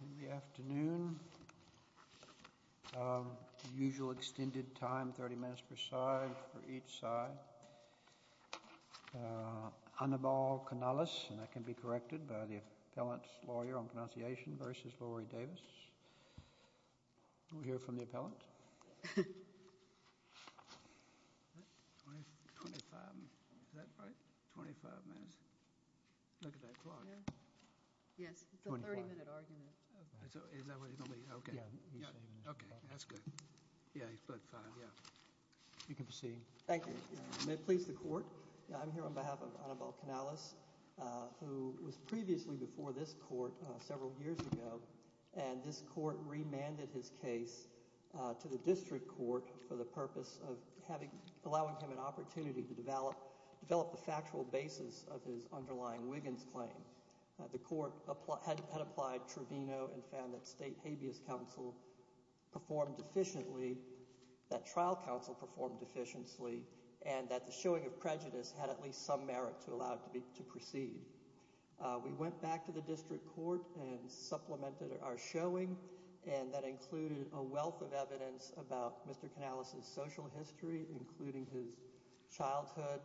In the afternoon, usual extended time, 30 minutes per side for each side. Anibal Canales, and that can be corrected by the appellant's lawyer on pronunciation, versus Lorie Davis. We'll hear from the appellant. Twenty-five. Is that right? Twenty-five minutes. Look at that clock. Yes, it's a 30-minute argument. Is that what he told me? Okay. Okay, that's good. Yeah, he's put five. Yeah. You can proceed. Thank you. May it please the court, I'm here on behalf of Anibal Canales, who was previously before this court several years ago, and this court remanded his case to the district court for the purpose of having, allowing him an opportunity to develop, develop the factual basis of his underlying Wiggins claim. The court had applied Trevino and found that state habeas counsel performed efficiently, that trial counsel performed efficiently, and that the showing of prejudice had at least some merit to allow it to be, to proceed. We went back to the district court and supplemented our showing, and that included a wealth of evidence about Mr. Canales' social history, including his childhood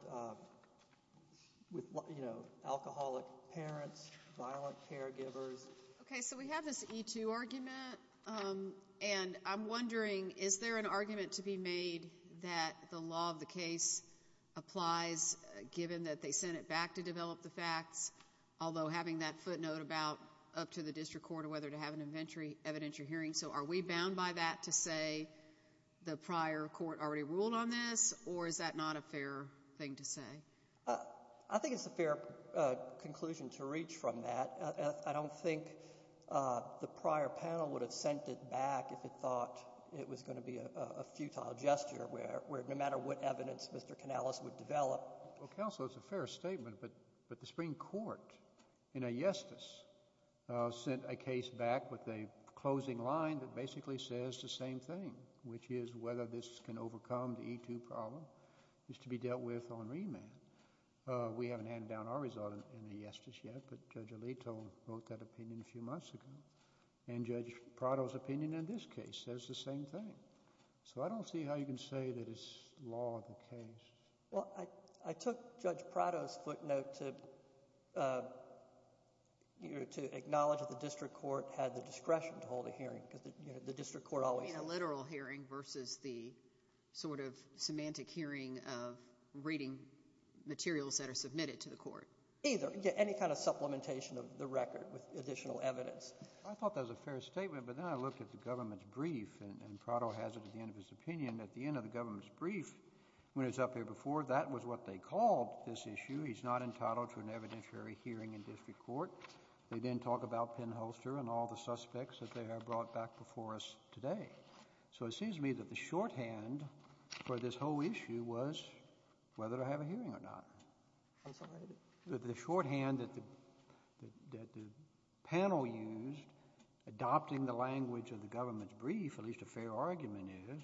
with, you know, alcoholic parents, violent caregivers. Okay, so we have this E2 argument, and I'm wondering, is there an argument to be made that the law of the case applies, given that they sent it back to develop the facts, although having that footnote about up to the district court, or whether to have an inventory, evidentiary hearing? So are we bound by that to say the prior court already ruled on this, or is that not a fair thing to say? I think it's a fair conclusion to reach from that. I don't think the prior panel would have sent it back if it thought it was going to be a futile gesture, where no matter what evidence Mr. Canales would develop. Well, counsel, it's a fair statement, but the Supreme Court, in a yestice, sent a case back with a closing line that basically says the same thing, which is whether this can overcome the E2 problem, is to be dealt with on remand. We haven't handed down our result in the yestice yet, but Judge Alito wrote that opinion a few months ago, and Judge Prado's opinion in this case says the same thing. So I don't see how you can say that it's law of the case. Well, I took Judge Prado's footnote to acknowledge that the district court had the discretion to hold a hearing, because the district court always... You mean a literal hearing versus the sort of semantic hearing of reading materials that are submitted to the court? Either. Any kind of supplementation of the record with additional evidence. I thought that was a fair statement, but then I looked at the government's brief, and Prado has it at the end of his opinion. At the end of the government's brief, when it was up here before, that was what they called this issue. He's not entitled to an evidentiary hearing in district court. They didn't talk about Penn Holster and all the suspects that they have brought back before us today. So it seems to me that the shorthand for this whole issue was whether to have a hearing or not. I'm sorry? The shorthand that the panel used, adopting the language of the government's brief, at least a fair argument is,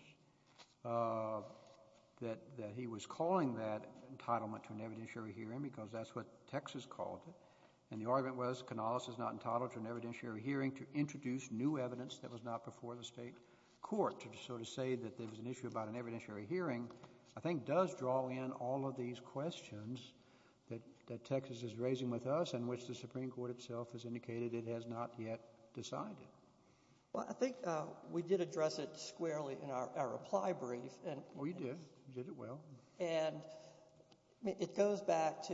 that he was calling that entitlement to an evidentiary hearing, because that's what Texas called it. And the argument was, Canales is not entitled to an evidentiary hearing to introduce new evidence that was not before the state court. So to say that there was an issue about an evidentiary hearing, I think, does draw in all of these questions that Texas is raising with us, and which the Supreme Court itself has indicated it has not yet decided. Well, I think we did address it squarely in our reply brief. We did. We did it well. And it goes back to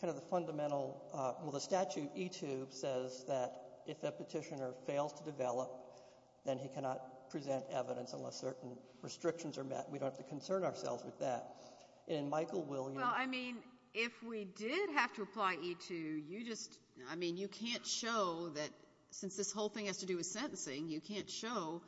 kind of the fundamental – well, the statute, E-2, says that if a petitioner fails to develop, then he cannot present evidence unless certain restrictions are met. We don't have to concern ourselves with that. And Michael Williams – Well, I mean, if we did have to apply E-2, you just – I mean, you can't show that – since this whole thing has to do with sentencing, you can't show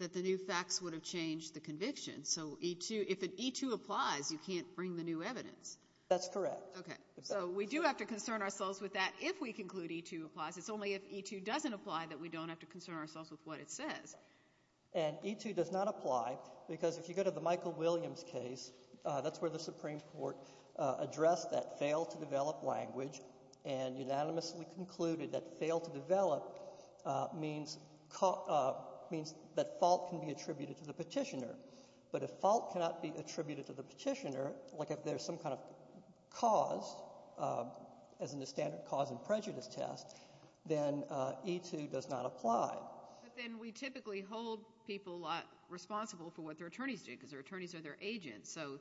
that the new facts would have changed the conviction. So E-2 – if an E-2 applies, you can't bring the new evidence. That's correct. Okay. So we do have to concern ourselves with that if we conclude E-2 applies. It's only if E-2 doesn't apply that we don't have to concern ourselves with what it says. And E-2 does not apply because if you go to the Michael Williams case, that's where the Supreme Court addressed that fail-to-develop language and unanimously concluded that fail-to-develop means that fault can be attributed to the petitioner. But if fault cannot be attributed to the petitioner, like if there's some kind of cause, as in the standard cause and prejudice test, then E-2 does not apply. But then we typically hold people responsible for what their attorneys do because their attorneys are their agents. So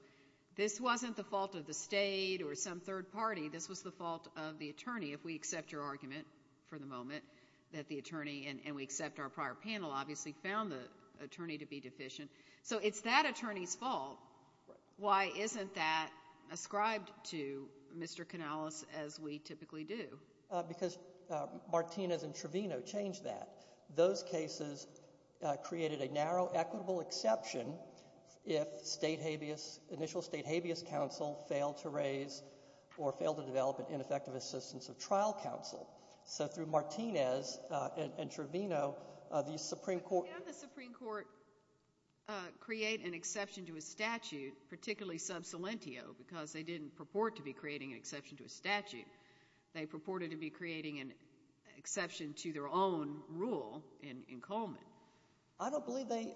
this wasn't the fault of the state or some third party. This was the fault of the attorney, if we accept your argument for the moment that the attorney – and we accept our prior panel obviously found the attorney to be deficient. So it's that attorney's fault. Why isn't that ascribed to Mr. Canales as we typically do? Because Martinez and Trevino changed that. Those cases created a narrow equitable exception if state habeas – initial state habeas counsel failed to raise or failed to develop an ineffective assistance of trial counsel. So through Martinez and Trevino, the Supreme Court – Can the Supreme Court create an exception to a statute, particularly sub salientio, because they didn't purport to be creating an exception to a statute. They purported to be creating an exception to their own rule in Coleman. I don't believe they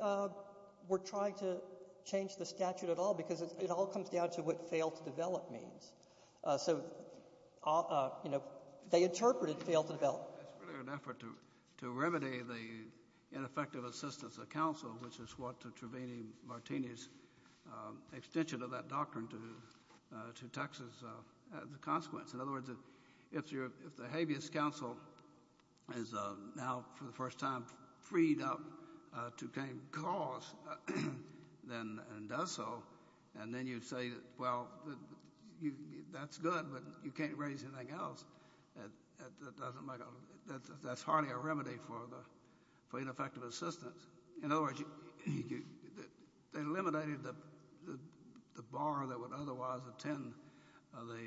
were trying to change the statute at all because it all comes down to what fail-to-develop means. So they interpreted fail-to-develop. It's really an effort to remedy the ineffective assistance of counsel, which is what Trevino-Martinez extension of that doctrine to Texas as a consequence. In other words, if the habeas counsel is now for the first time freed up to claim cause and does so, and then you say, well, that's good, but you can't raise anything else, that's hardly a remedy for ineffective assistance. In other words, they eliminated the bar that would otherwise attend the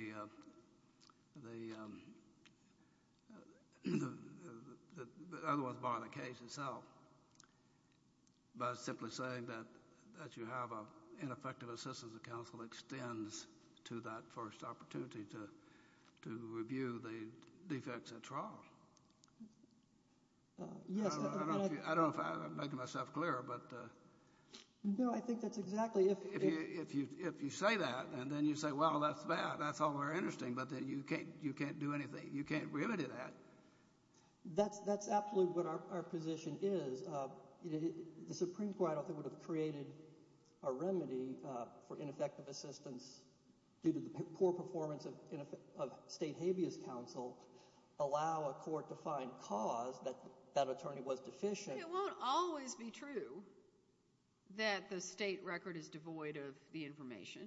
case itself by simply saying that you have an ineffective assistance of counsel extends to that first opportunity to review the defects at trial. I don't know if I'm making myself clear. No, I think that's exactly it. If you say that and then you say, well, that's bad, that's all very interesting, but then you can't do anything. You can't remedy that. That's absolutely what our position is. The Supreme Court, I don't think, would have created a remedy for ineffective assistance due to the poor performance of state habeas counsel allow a court to find cause that that attorney was deficient. It won't always be true that the state record is devoid of the information.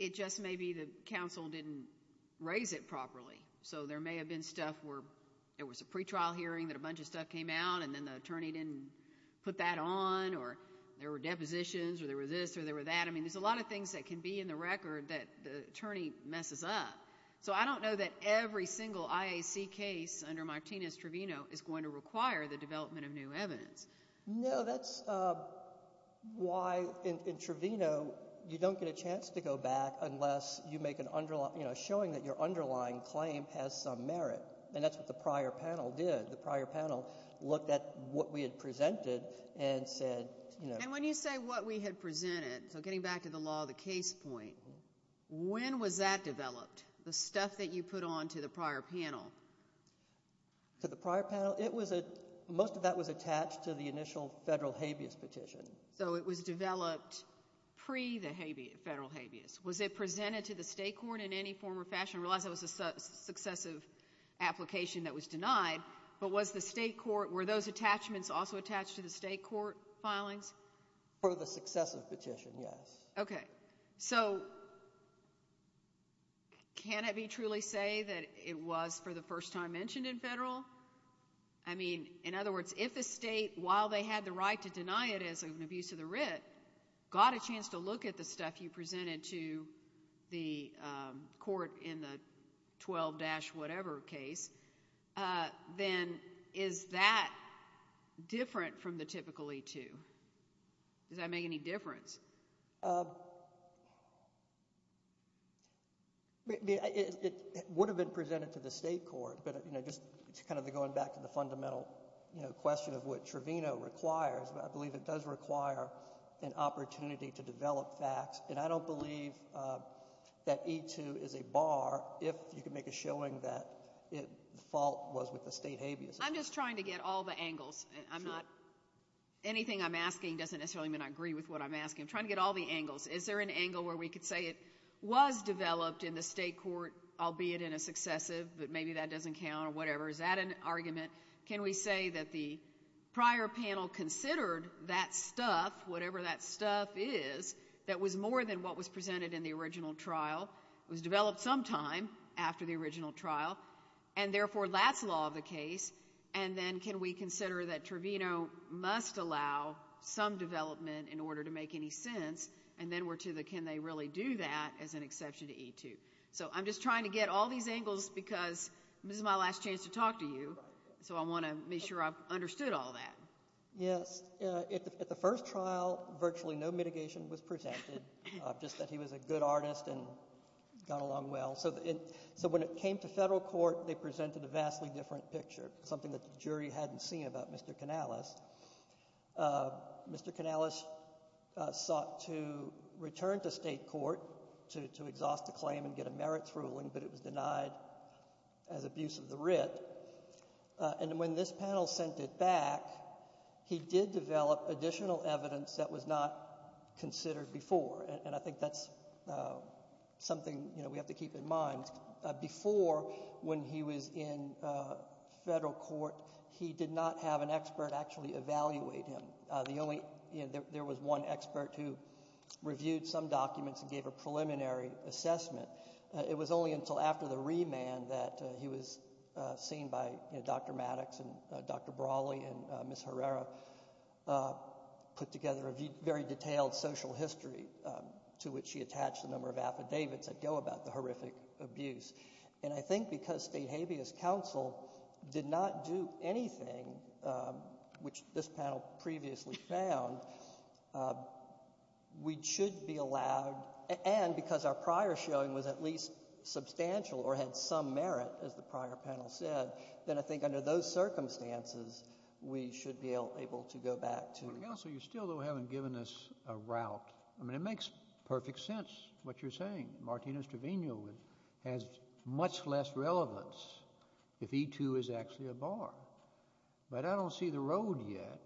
It just may be the counsel didn't raise it properly. So there may have been stuff where there was a pretrial hearing that a bunch of stuff came out, and then the attorney didn't put that on, or there were depositions, or there was this, or there was that. I mean, there's a lot of things that can be in the record that the attorney messes up. So I don't know that every single IAC case under Martinez-Trevino is going to require the development of new evidence. No, that's why, in Trevino, you don't get a chance to go back unless you make an underlying, you know, showing that your underlying claim has some merit. And that's what the prior panel did. The prior panel looked at what we had presented and said, you know. And when you say what we had presented, so getting back to the law of the case point, when was that developed, the stuff that you put on to the prior panel? To the prior panel? It was a, most of that was attached to the initial federal habeas petition. So it was developed pre the federal habeas. Was it presented to the state court in any form or fashion? I realize that was a successive application that was denied, but was the state court, were those attachments also attached to the state court filings? For the successive petition, yes. Okay. So can it be truly say that it was for the first time mentioned in federal? I mean, in other words, if the state, while they had the right to deny it as an abuse of the writ, got a chance to look at the stuff you presented to the court in the 12-whatever case, then is that different from the typical E-2? Does that make any difference? It would have been presented to the state court, but just kind of going back to the fundamental question of what Trevino requires, I believe it does require an opportunity to develop facts. And I don't believe that E-2 is a bar if you can make a showing that the fault was with the state habeas. I'm just trying to get all the angles. Anything I'm asking doesn't necessarily mean I agree with what I'm asking. I'm trying to get all the angles. Is there an angle where we could say it was developed in the state court, albeit in a successive, but maybe that doesn't count or whatever? Is that an argument? Can we say that the prior panel considered that stuff, whatever that stuff is, that was more than what was presented in the original trial? It was developed sometime after the original trial, and therefore that's law of the case. And then can we consider that Trevino must allow some development in order to make any sense, and then we're to the can they really do that as an exception to E-2? So I'm just trying to get all these angles because this is my last chance to talk to you, so I want to make sure I've understood all that. Yes. At the first trial, virtually no mitigation was presented, just that he was a good artist and got along well. So when it came to federal court, they presented a vastly different picture, something that the jury hadn't seen about Mr. Canales. Mr. Canales sought to return to state court to exhaust the claim and get a merits ruling, but it was denied as abuse of the writ. And when this panel sent it back, he did develop additional evidence that was not considered before, and I think that's something we have to keep in mind. Before, when he was in federal court, he did not have an expert actually evaluate him. There was one expert who reviewed some documents and gave a preliminary assessment. It was only until after the remand that he was seen by Dr. Maddox and Dr. Brawley and Ms. Herrera, put together a very detailed social history to which she attached a number of affidavits that go about the horrific abuse. And I think because state habeas counsel did not do anything, which this panel previously found, we should be allowed, and because our prior showing was at least substantial or had some merit, as the prior panel said, then I think under those circumstances, we should be able to go back to the court. Counsel, you still haven't given us a route. I mean, it makes perfect sense, what you're saying. Martínez Treviño has much less relevance if E-2 is actually a bar. But I don't see the road yet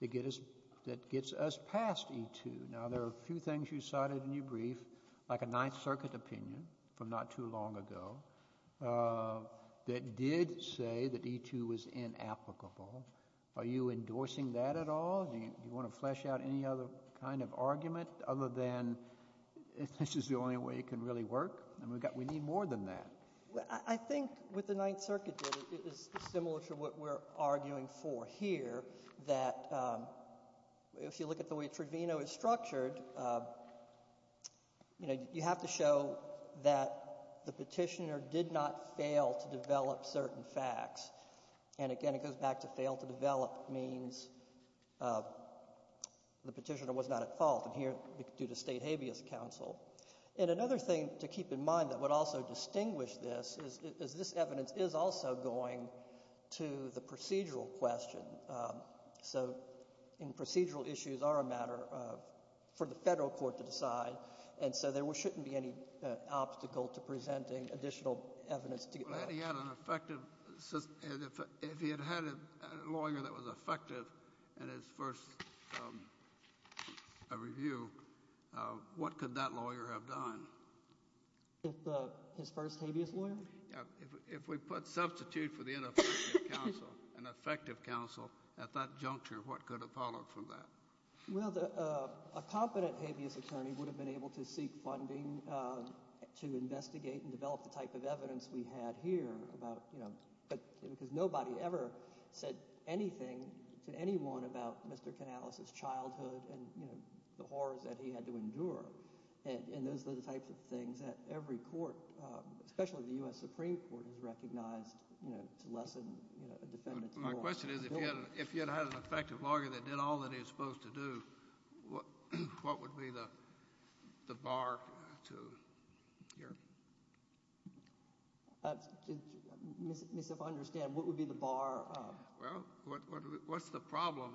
that gets us past E-2. Now, there are a few things you cited in your brief, like a Ninth Circuit opinion from not too long ago, that did say that E-2 was inapplicable. Are you endorsing that at all? Do you want to flesh out any other kind of argument other than this is the only way it can really work? I mean, we need more than that. Well, I think what the Ninth Circuit did is similar to what we're arguing for here, that if you look at the way Treviño is structured, you have to show that the petitioner did not fail to develop certain facts. And again, it goes back to fail to develop means the petitioner was not at fault due to state habeas counsel. And another thing to keep in mind that would also distinguish this is this evidence is also going to the procedural question. So procedural issues are a matter for the federal court to decide, and so there shouldn't be any obstacle to presenting additional evidence. If he had had a lawyer that was effective in his first review, what could that lawyer have done? His first habeas lawyer? If we put substitute for the ineffective counsel, an effective counsel, at that juncture, what could have followed from that? Well, a competent habeas attorney would have been able to seek funding to investigate and develop the type of evidence we had here about – because nobody ever said anything to anyone about Mr. Canales' childhood and the horrors that he had to endure. And those are the types of things that every court, especially the U.S. Supreme Court, has recognized to lessen a defendant's horrors. My question is if he had had an effective lawyer that did all that he was supposed to do, what would be the bar to your – Let me see if I understand. What would be the bar? Well, what's the problem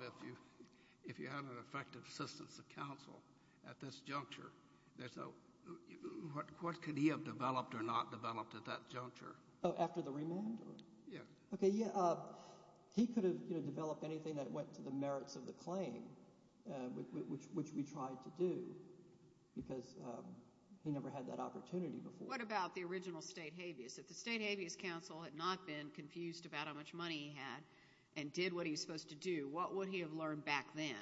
if you have an effective assistance of counsel at this juncture? What could he have developed or not developed at that juncture? Oh, after the remand? Yeah. Okay, yeah. He could have developed anything that went to the merits of the claim, which we tried to do because he never had that opportunity before. What about the original state habeas? If the state habeas counsel had not been confused about how much money he had and did what he was supposed to do, what would he have learned back then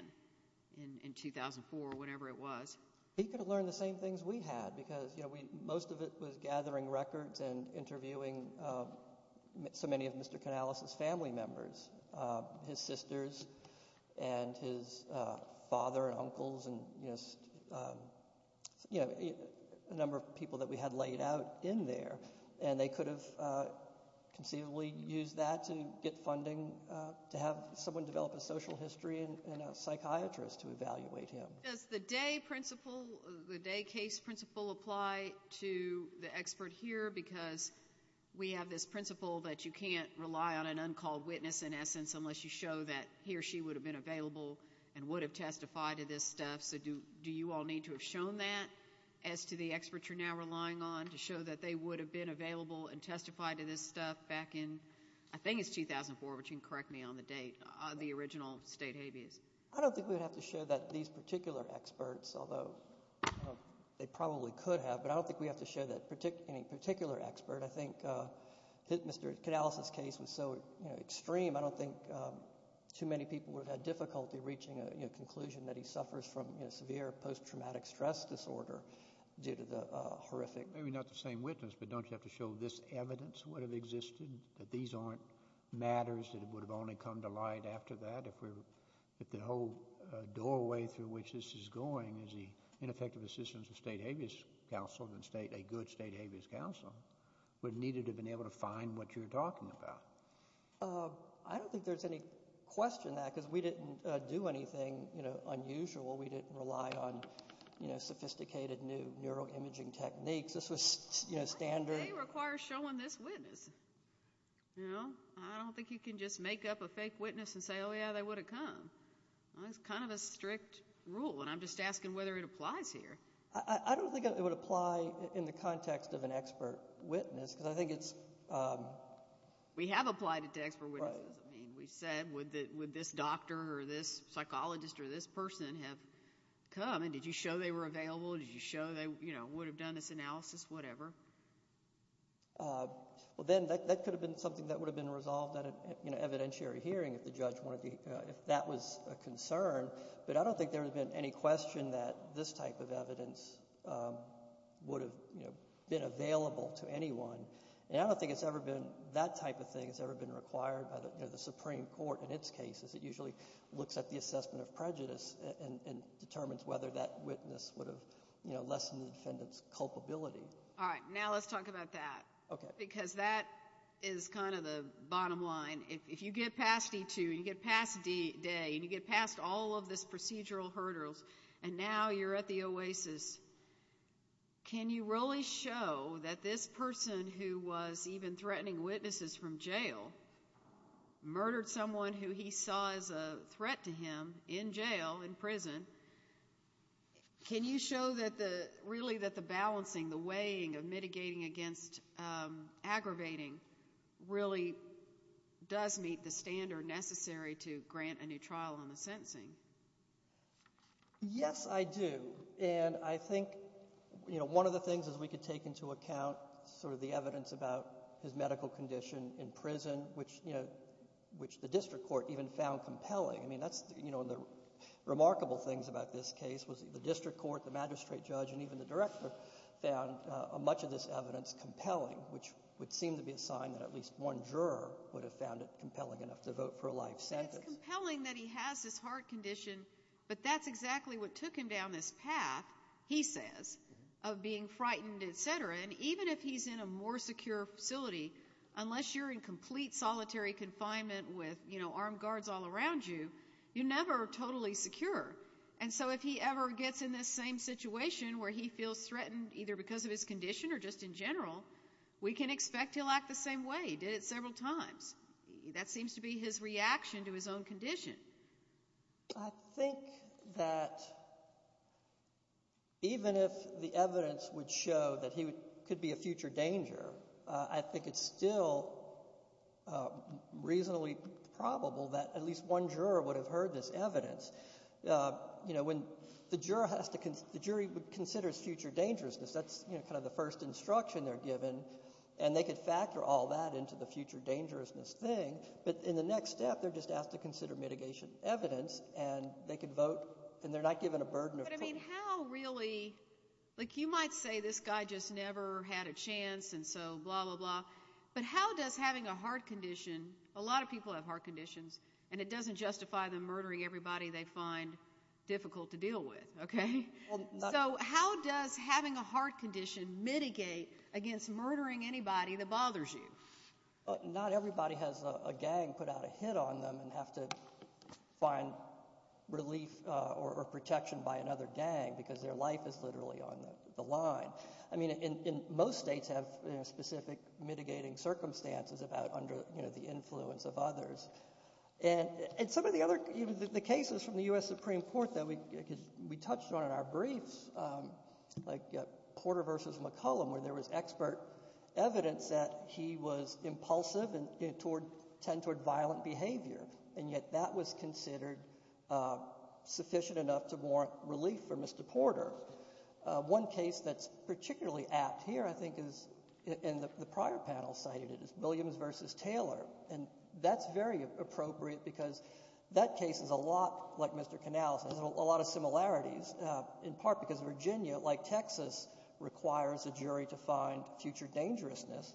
in 2004 or whenever it was? He could have learned the same things we had because most of it was gathering records and interviewing so many of Mr. Canales' family members, his sisters and his father and uncles and a number of people that we had laid out in there, and they could have conceivably used that to get funding to have someone develop a social history and a psychiatrist to evaluate him. Does the day principle, the day case principle, apply to the expert here? Because we have this principle that you can't rely on an uncalled witness, in essence, unless you show that he or she would have been available and would have testified to this stuff. So do you all need to have shown that as to the expert you're now relying on to show that they would have been available and testified to this stuff back in, I think it's 2004, which you can correct me on the date, the original state habeas? I don't think we would have to show that these particular experts, although they probably could have, but I don't think we have to show any particular expert. I think Mr. Canales' case was so extreme, I don't think too many people would have had difficulty reaching a conclusion that he suffers from severe post-traumatic stress disorder due to the horrific— Maybe not the same witness, but don't you have to show this evidence would have existed, that these aren't matters that would have only come to light after that if the whole doorway through which this is going is the ineffective assistance of state habeas counsel and a good state habeas counsel would have needed to have been able to find what you're talking about? I don't think there's any question that, because we didn't do anything unusual. We didn't rely on sophisticated new neuroimaging techniques. They require showing this witness. I don't think you can just make up a fake witness and say, oh, yeah, they would have come. It's kind of a strict rule, and I'm just asking whether it applies here. I don't think it would apply in the context of an expert witness, because I think it's— We have applied it to expert witnesses. We said, would this doctor or this psychologist or this person have come, and did you show they were available? Did you show they would have done this analysis, whatever? Well, then that could have been something that would have been resolved at an evidentiary hearing if the judge wanted to— if that was a concern, but I don't think there would have been any question that this type of evidence would have been available to anyone. And I don't think it's ever been—that type of thing has ever been required by the Supreme Court in its cases. It usually looks at the assessment of prejudice and determines whether that witness would have lessened the defendant's culpability. All right, now let's talk about that, because that is kind of the bottom line. If you get past D-2 and you get past D-Day and you get past all of this procedural hurdles, and now you're at the OASIS, can you really show that this person who was even threatening witnesses from jail murdered someone who he saw as a threat to him in jail, in prison? Can you show that the—really that the balancing, the weighing of mitigating against aggravating really does meet the standard necessary to grant a new trial on the sentencing? Yes, I do. And I think one of the things is we could take into account sort of the evidence about his medical condition in prison, which the district court even found compelling. I mean, that's—the remarkable things about this case was the district court, the magistrate judge, and even the director found much of this evidence compelling, which would seem to be a sign that at least one juror would have found it compelling enough to vote for a life sentence. It's compelling that he has this heart condition, but that's exactly what took him down this path, he says, of being frightened, et cetera. And even if he's in a more secure facility, unless you're in complete solitary confinement with armed guards all around you, you're never totally secure. And so if he ever gets in this same situation where he feels threatened either because of his condition or just in general, we can expect he'll act the same way. He did it several times. That seems to be his reaction to his own condition. I think that even if the evidence would show that he could be a future danger, I think it's still reasonably probable that at least one juror would have heard this evidence. When the jury considers future dangerousness, that's kind of the first instruction they're given, and they could factor all that into the future dangerousness thing. But in the next step, they're just asked to consider mitigation evidence, and they could vote, and they're not given a burden of— But, I mean, how really—like you might say this guy just never had a chance and so blah, blah, blah. But how does having a heart condition—a lot of people have heart conditions, and it doesn't justify them murdering everybody they find difficult to deal with, okay? So how does having a heart condition mitigate against murdering anybody that bothers you? Not everybody has a gang put out a hit on them and have to find relief or protection by another gang because their life is literally on the line. I mean, most states have specific mitigating circumstances about under the influence of others. And some of the other—the cases from the U.S. Supreme Court that we touched on in our briefs, like Porter v. McCullum, where there was expert evidence that he was impulsive and tend toward violent behavior, and yet that was considered sufficient enough to warrant relief for Mr. Porter. One case that's particularly apt here, I think, is—and the prior panel cited it—is Williams v. Taylor. And that's very appropriate because that case is a lot like Mr. Canales. It has a lot of similarities, in part because Virginia, like Texas, requires a jury to find future dangerousness.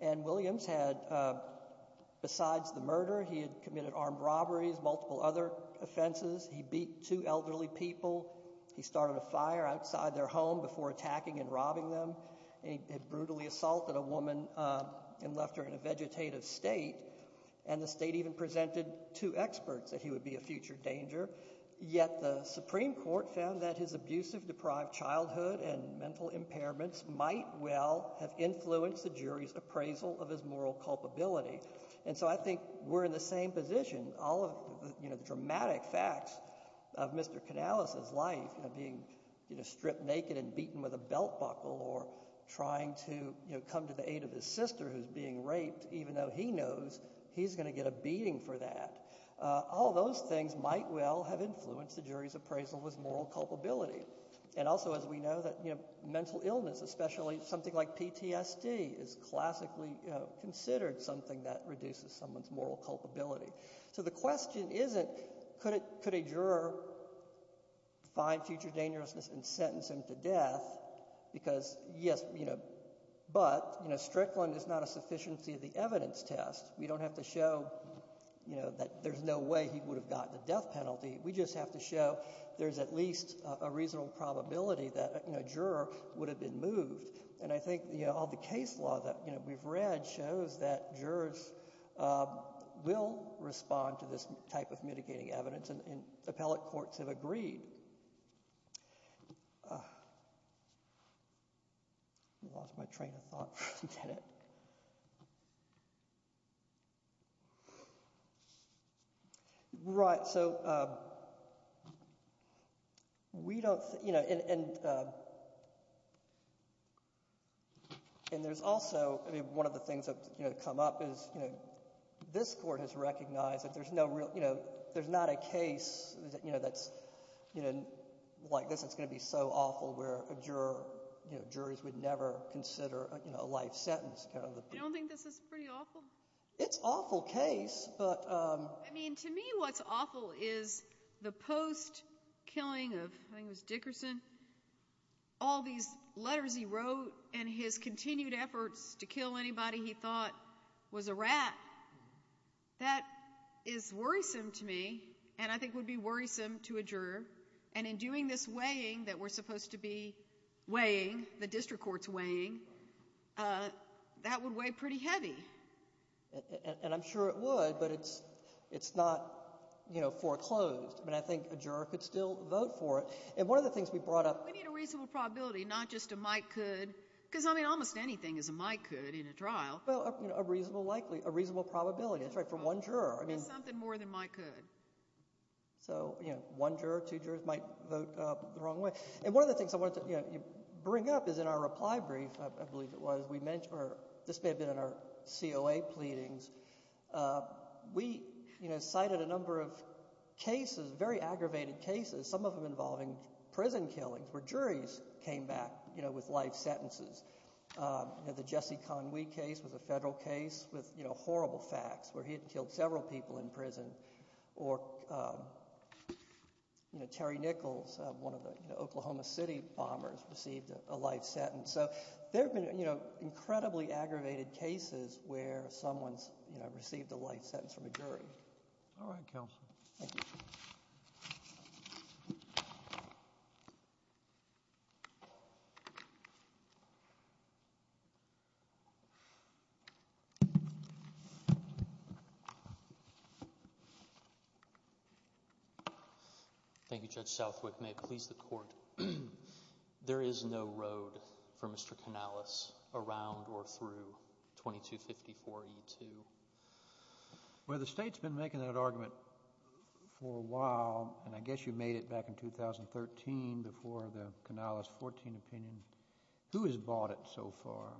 And Williams had—besides the murder, he had committed armed robberies, multiple other offenses. He beat two elderly people. He started a fire outside their home before attacking and robbing them. He brutally assaulted a woman and left her in a vegetative state. And the state even presented to experts that he would be a future danger. Yet the Supreme Court found that his abusive, deprived childhood and mental impairments might well have influenced the jury's appraisal of his moral culpability. And so I think we're in the same position. All of the dramatic facts of Mr. Canales' life, being stripped naked and beaten with a belt buckle or trying to come to the aid of his sister who's being raped, even though he knows he's going to get a beating for that, all those things might well have influenced the jury's appraisal of his moral culpability. And also, as we know, that mental illness, especially something like PTSD, is classically considered something that reduces someone's moral culpability. So the question isn't could a juror find future dangerousness and sentence him to death because, yes, but Strickland is not a sufficiency of the evidence test. We don't have to show that there's no way he would have gotten a death penalty. We just have to show there's at least a reasonable probability that a juror would have been moved. And I think all the case law that we've read shows that jurors will respond to this type of mitigating evidence, and appellate courts have agreed. I lost my train of thought for a minute. Right. So we don't – and there's also – I mean, one of the things that have come up is this court has recognized that there's no real – there's not a case that's – like this, it's going to be so awful where a juror – juries would never consider a life sentence. I don't think this is pretty awful. It's an awful case, but – I mean, to me what's awful is the post-killing of – I think it was Dickerson – all these letters he wrote and his continued efforts to kill anybody he thought was a rat. That is worrisome to me, and I think would be worrisome to a juror. And in doing this weighing that we're supposed to be weighing, the district court's weighing, that would weigh pretty heavy. And I'm sure it would, but it's not foreclosed. I mean, I think a juror could still vote for it. And one of the things we brought up – We need a reasonable probability, not just a might-could, because, I mean, almost anything is a might-could in a trial. Well, a reasonable probability. That's right. For one juror. There's something more than might-could. So one juror, two jurors might vote the wrong way. And one of the things I wanted to bring up is in our reply brief, I believe it was, we mentioned – or this may have been in our COA pleadings. We cited a number of cases, very aggravated cases, some of them involving prison killings where juries came back with life sentences. The Jesse Conwee case was a federal case with horrible facts where he had killed several people in prison. Or Terry Nichols, one of the Oklahoma City bombers, received a life sentence. So there have been incredibly aggravated cases where someone's received a life sentence from a jury. Thank you. Thank you. Thank you, Judge Southwick. May it please the Court. There is no road for Mr. Canales around or through 2254E2. Well, the State's been making that argument for a while, and I guess you made it back in 2013 before the Canales 14 opinion. Who has bought it so far?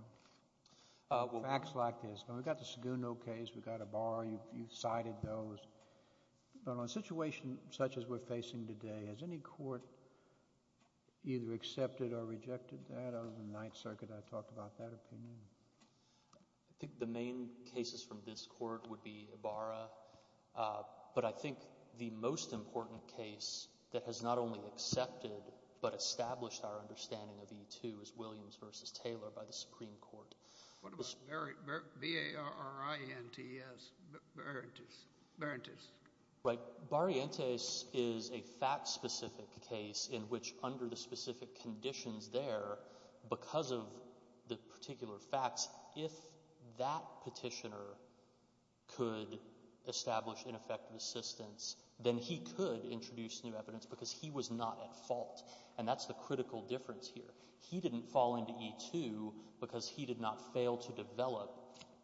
Facts like this. We've got the Saguno case. We've got a bar. You cited those. But on a situation such as we're facing today, has any court either accepted or rejected that other than the Ninth Circuit? I talked about that opinion. I think the main cases from this court would be Ibarra. But I think the most important case that has not only accepted but established our understanding of E2 is Williams v. Taylor by the Supreme Court. What about Barrientes? Barrientes. Barrientes. Right. Barrientes is a fact-specific case in which under the specific conditions there, because of the particular facts, if that petitioner could establish ineffective assistance, then he could introduce new evidence because he was not at fault. And that's the critical difference here. He didn't fall into E2 because he did not fail to develop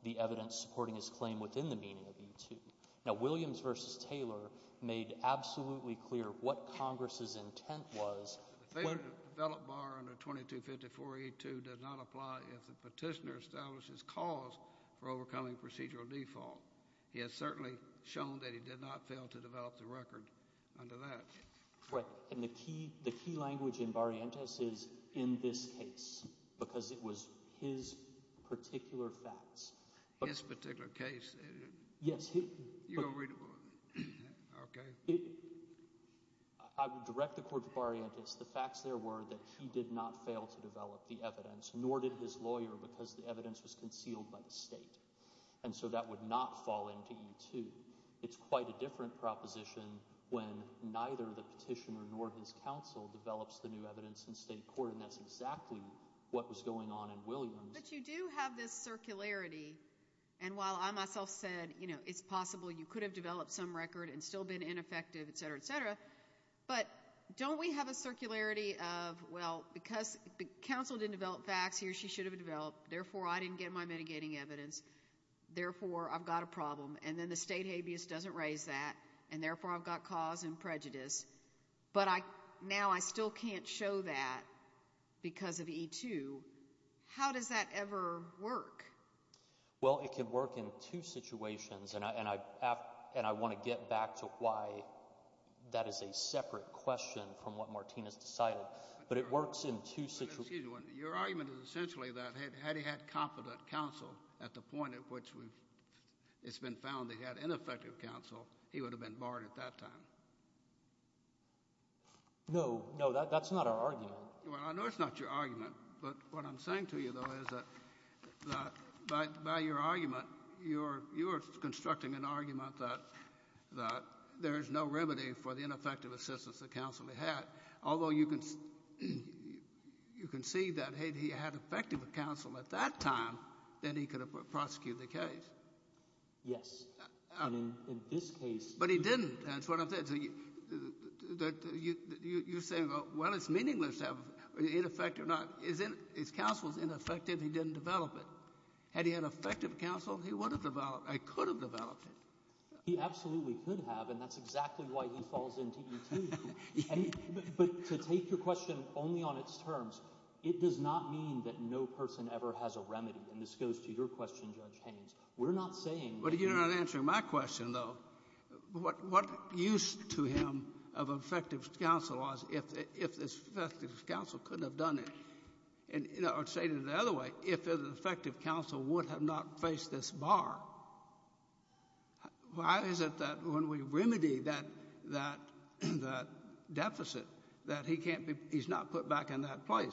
the evidence supporting his claim within the meaning of E2. Now, Williams v. Taylor made absolutely clear what Congress's intent was. The failed to develop bar under 2254E2 does not apply if the petitioner establishes cause for overcoming procedural default. He has certainly shown that he did not fail to develop the record under that. Right. And the key language in Barrientes is in this case because it was his particular facts. His particular case? Yes. I would direct the court to Barrientes. The facts there were that he did not fail to develop the evidence, nor did his lawyer, because the evidence was concealed by the state. And so that would not fall into E2. It's quite a different proposition when neither the petitioner nor his counsel develops the new evidence in state court, and that's exactly what was going on in Williams. But you do have this circularity. And while I myself said, you know, it's possible you could have developed some record and still been ineffective, et cetera, et cetera, but don't we have a circularity of, well, because counsel didn't develop facts, he or she should have developed, therefore I didn't get my mitigating evidence, therefore I've got a problem. And then the state habeas doesn't raise that, and therefore I've got cause and prejudice. But now I still can't show that because of E2. How does that ever work? Well, it could work in two situations, and I want to get back to why that is a separate question from what Martinez decided. But it works in two situations. Excuse me. Your argument is essentially that had he had confident counsel at the point at which it's been found that he had ineffective counsel, he would have been barred at that time. No, no, that's not our argument. Well, I know it's not your argument, but what I'm saying to you, though, is that by your argument, you are constructing an argument that there is no remedy for the ineffective assistance that counsel had, although you can see that had he had effective counsel at that time, then he could have prosecuted the case. Yes. In this case. But he didn't. That's what I'm saying. You're saying, well, it's meaningless to have ineffective counsel. If counsel is ineffective, he didn't develop it. Had he had effective counsel, he would have developed it, could have developed it. He absolutely could have, and that's exactly why he falls into E2. But to take your question only on its terms, it does not mean that no person ever has a remedy. And this goes to your question, Judge Haynes. We're not saying that — But you're not answering my question, though. What used to him of effective counsel was if this effective counsel couldn't have done it. Or to say it another way, if an effective counsel would have not faced this bar, why is it that when we remedy that deficit that he can't be — he's not put back in that place?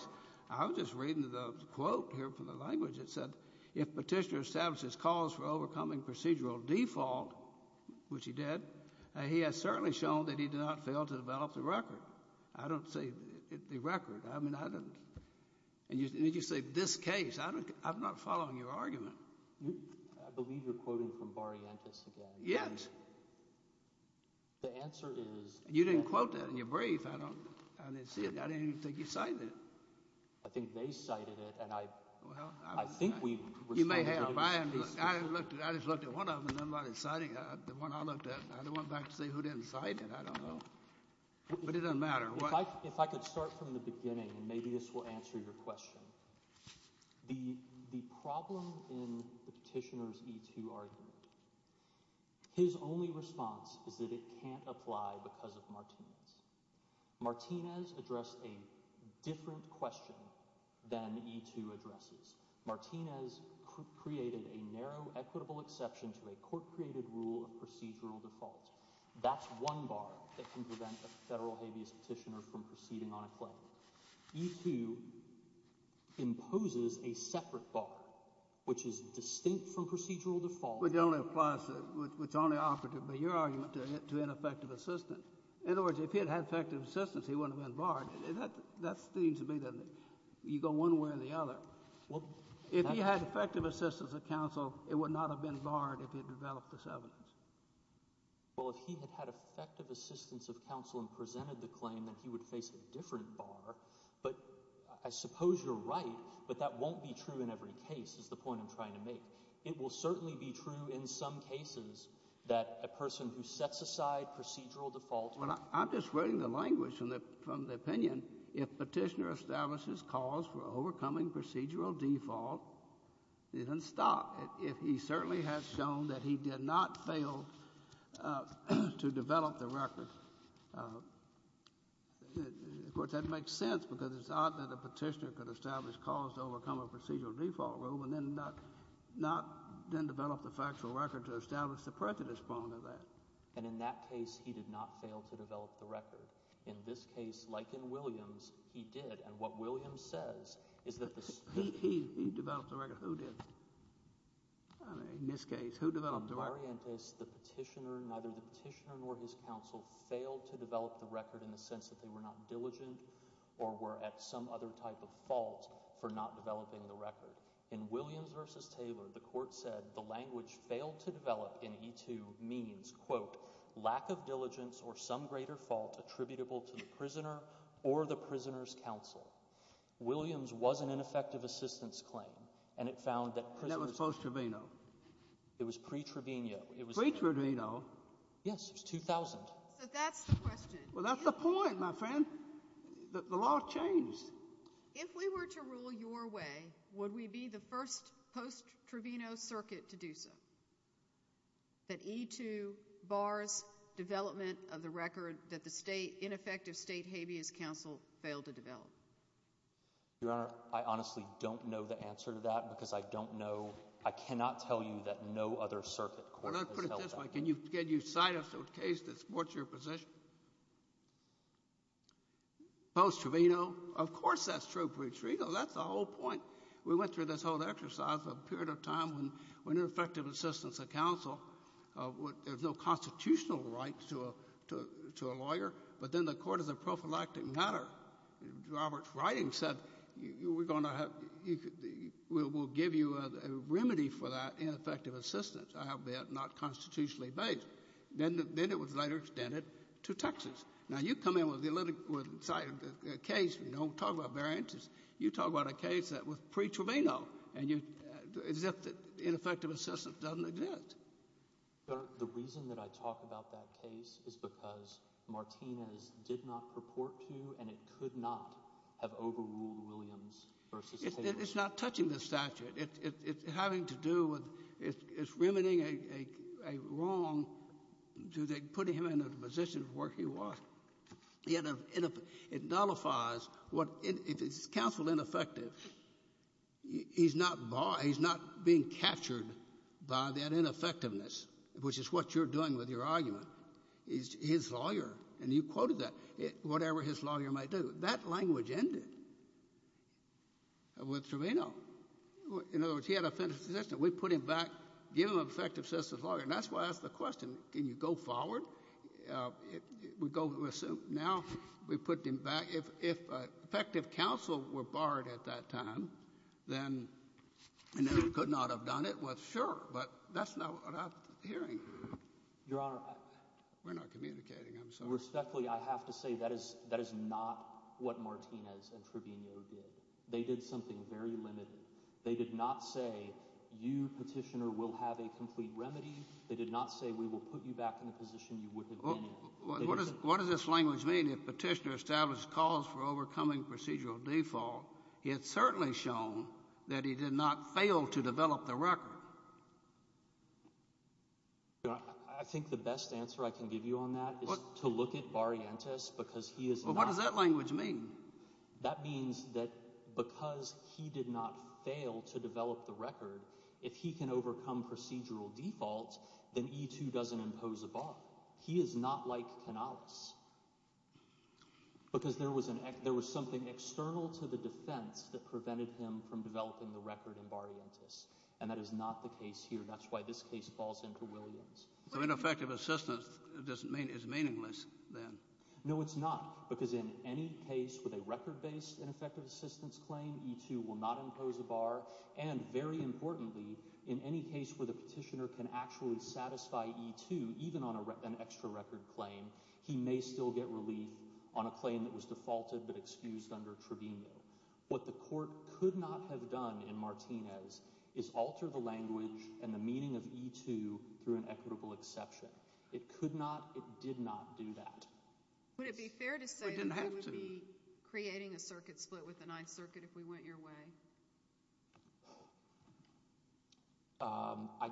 I was just reading the quote here from the language. It said, if Petitioner establishes cause for overcoming procedural default, which he did, he has certainly shown that he did not fail to develop the record. I don't say the record. I mean, I don't — and you say this case. I'm not following your argument. I believe you're quoting from Barrientos again. Yes. The answer is — You didn't quote that in your brief. I didn't see it. I didn't even think you cited it. I think they cited it, and I think we — You may have. I just looked at one of them, and nobody cited it. The one I looked at, I went back to see who didn't cite it. I don't know. But it doesn't matter. If I could start from the beginning, and maybe this will answer your question. The problem in the petitioner's E-2 argument, his only response is that it can't apply because of Martinez. Martinez addressed a different question than E-2 addresses. Martinez created a narrow equitable exception to a court-created rule of procedural default. That's one bar that can prevent a federal habeas petitioner from proceeding on a claim. E-2 imposes a separate bar, which is distinct from procedural default. Which only applies to — which only operates, by your argument, to ineffective assistance. In other words, if he had had effective assistance, he wouldn't have been barred. That seems to me that you go one way or the other. If he had effective assistance of counsel, it would not have been barred if he had developed this evidence. Well, if he had had effective assistance of counsel and presented the claim, then he would face a different bar. But I suppose you're right, but that won't be true in every case, is the point I'm trying to make. It will certainly be true in some cases that a person who sets aside procedural default — Well, I'm just reading the language from the opinion. If petitioner establishes cause for overcoming procedural default, he doesn't stop. He certainly has shown that he did not fail to develop the record. Of course, that makes sense because it's odd that a petitioner could establish cause to overcome a procedural default rule and then not develop the factual record to establish the prejudice point of that. And in that case, he did not fail to develop the record. In this case, like in Williams, he did. And what Williams says is that the— He developed the record. Who did? In this case, who developed the record? In Variantes, the petitioner, neither the petitioner nor his counsel failed to develop the record in the sense that they were not diligent or were at some other type of fault for not developing the record. In Williams v. Taylor, the court said the language failed to develop in E-2 means, quote, lack of diligence or some greater fault attributable to the prisoner or the prisoner's counsel. Williams was an ineffective assistance claim, and it found that prisoners— And that was post-Trovino. It was pre-Trovino. Pre-Trovino? Yes, it was 2000. So that's the question. Well, that's the point, my friend. The law changed. If we were to rule your way, would we be the first post-Trovino circuit to do so? That E-2 bars development of the record that the ineffective state habeas counsel failed to develop. Your Honor, I honestly don't know the answer to that because I don't know— I cannot tell you that no other circuit court has held that. Well, let me put it this way. Can you cite us a case that supports your position? Post-Trovino, of course that's true. Pre-Trovino, that's the whole point. We went through this whole exercise for a period of time when ineffective assistance of counsel, there's no constitutional right to a lawyer, but then the court is a prophylactic matter. Roberts' writing said we're going to have—we'll give you a remedy for that ineffective assistance, albeit not constitutionally based. Then it was later extended to Texas. Now, you come in with a case, you know, talk about variances. You talk about a case that was pre-Trovino and you—as if ineffective assistance doesn't exist. Your Honor, the reason that I talk about that case is because Martinez did not purport to and it could not have overruled Williams v. Habeas. It's not touching the statute. It's having to do with—it's rimming a wrong to the—putting him in a position of where he was. It nullifies what—if it's counsel ineffective, he's not being captured by that ineffectiveness, which is what you're doing with your argument. He's his lawyer, and you quoted that, whatever his lawyer might do. That language ended with Trovino. In other words, he had a finished decision. We put him back, give him effective assistance of lawyer. And that's why I asked the question, can you go forward? We go—now we put him back. If effective counsel were barred at that time, then—and it could not have done it, well, sure. But that's not what I'm hearing. Your Honor— We're not communicating. I'm sorry. Respectfully, I have to say that is not what Martinez and Trovino did. They did something very limited. They did not say, you, petitioner, will have a complete remedy. They did not say, we will put you back in the position you would have been in. What does this language mean if petitioner established cause for overcoming procedural default? It's certainly shown that he did not fail to develop the record. Your Honor, I think the best answer I can give you on that is to look at Barrientos because he is not— Well, what does that language mean? That means that because he did not fail to develop the record, if he can overcome procedural default, then E2 doesn't impose a bar. He is not like Canales because there was something external to the defense that prevented him from developing the record in Barrientos. And that is not the case here. That's why this case falls into Williams. So ineffective assistance is meaningless then? No, it's not because in any case with a record-based ineffective assistance claim, E2 will not impose a bar. And very importantly, in any case where the petitioner can actually satisfy E2, even on an extra record claim, he may still get relief on a claim that was defaulted but excused under Trovino. What the court could not have done in Martinez is alter the language and the meaning of E2 through an equitable exception. It could not—it did not do that. Would it be fair to say that you would be creating a circuit split with the Ninth Circuit if we went your way? I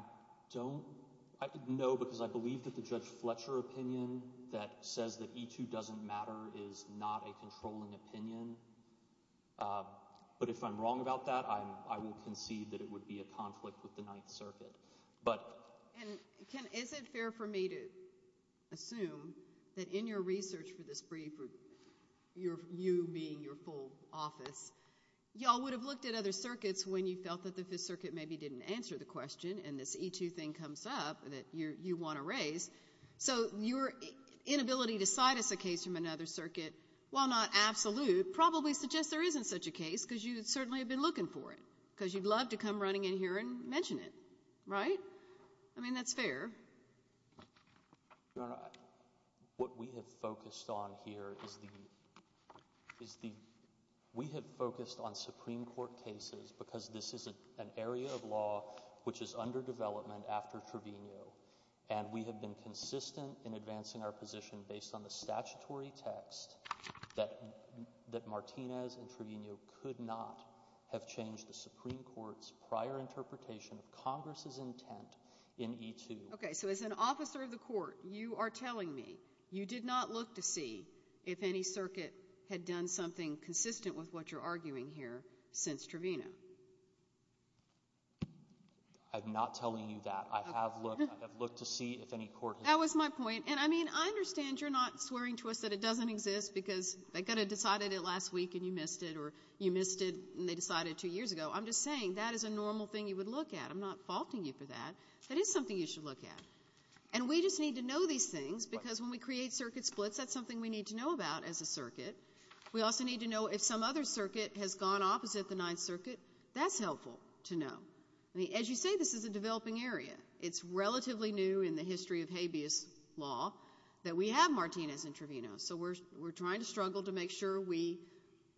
don't—I don't know because I believe that the Judge Fletcher opinion that says that E2 doesn't matter is not a controlling opinion. But if I'm wrong about that, I will concede that it would be a conflict with the Ninth Circuit. And is it fair for me to assume that in your research for this brief, you being your full office, you all would have looked at other circuits when you felt that the Fifth Circuit maybe didn't answer the question and this E2 thing comes up that you want to raise. So your inability to cite us a case from another circuit, while not absolute, probably suggests there isn't such a case because you certainly have been looking for it because you'd love to come running in here and mention it, right? I mean, that's fair. Your Honor, what we have focused on here is the—we have focused on Supreme Court cases because this is an area of law which is under development after Trevino, and we have been consistent in advancing our position based on the statutory text that Martinez and Trevino could not have changed the Supreme Court's prior interpretation of Congress's intent in E2. Okay. So as an officer of the court, you are telling me you did not look to see if any circuit had done something consistent with what you're arguing here since Trevino? I'm not telling you that. I have looked. I have looked to see if any court has— That was my point. And, I mean, I understand you're not swearing to us that it doesn't exist because they could have decided it last week and you missed it, or you missed it and they decided it two years ago. I'm just saying that is a normal thing you would look at. I'm not faulting you for that. That is something you should look at. And we just need to know these things because when we create circuit splits, that's something we need to know about as a circuit. We also need to know if some other circuit has gone opposite the Ninth Circuit. That's helpful to know. I mean, as you say, this is a developing area. It's relatively new in the history of habeas law that we have Martinez and Trevino, so we're trying to struggle to make sure we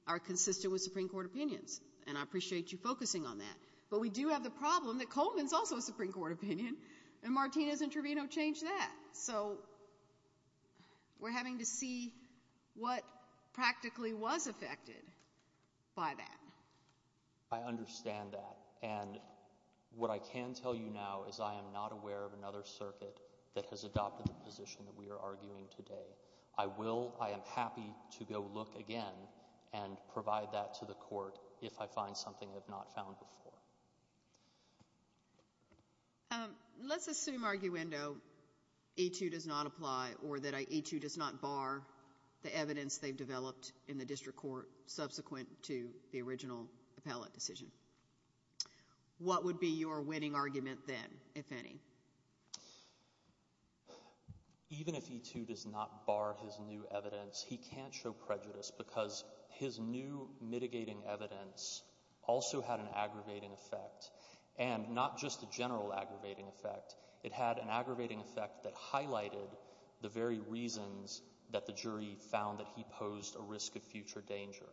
are consistent with Supreme Court opinions, and I appreciate you focusing on that. But we do have the problem that Coleman is also a Supreme Court opinion, and Martinez and Trevino changed that. So we're having to see what practically was affected by that. I understand that. And what I can tell you now is I am not aware of another circuit that has adopted the position that we are arguing today. I am happy to go look again and provide that to the court if I find something I have not found before. Let's assume arguendo A-2 does not apply or that A-2 does not bar the evidence they've developed in the district court subsequent to the original appellate decision. What would be your winning argument then, if any? Even if A-2 does not bar his new evidence, he can't show prejudice because his new mitigating evidence also had an aggravating effect, and not just a general aggravating effect. It had an aggravating effect that highlighted the very reasons that the jury found that he posed a risk of future danger.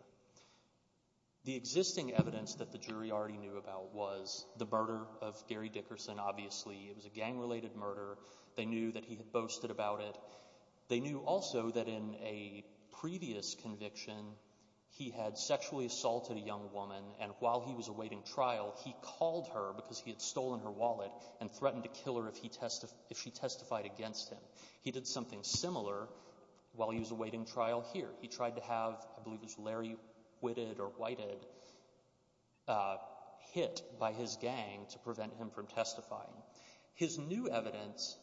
The existing evidence that the jury already knew about was the murder of Gary Dickerson, obviously. It was a gang-related murder. They knew that he had boasted about it. They knew also that in a previous conviction, he had sexually assaulted a young woman, and while he was awaiting trial he called her because he had stolen her wallet and threatened to kill her if she testified against him. He did something similar while he was awaiting trial here. He tried to have, I believe it was Larry Whitted or Whited hit by his gang to prevent him from testifying. His new evidence,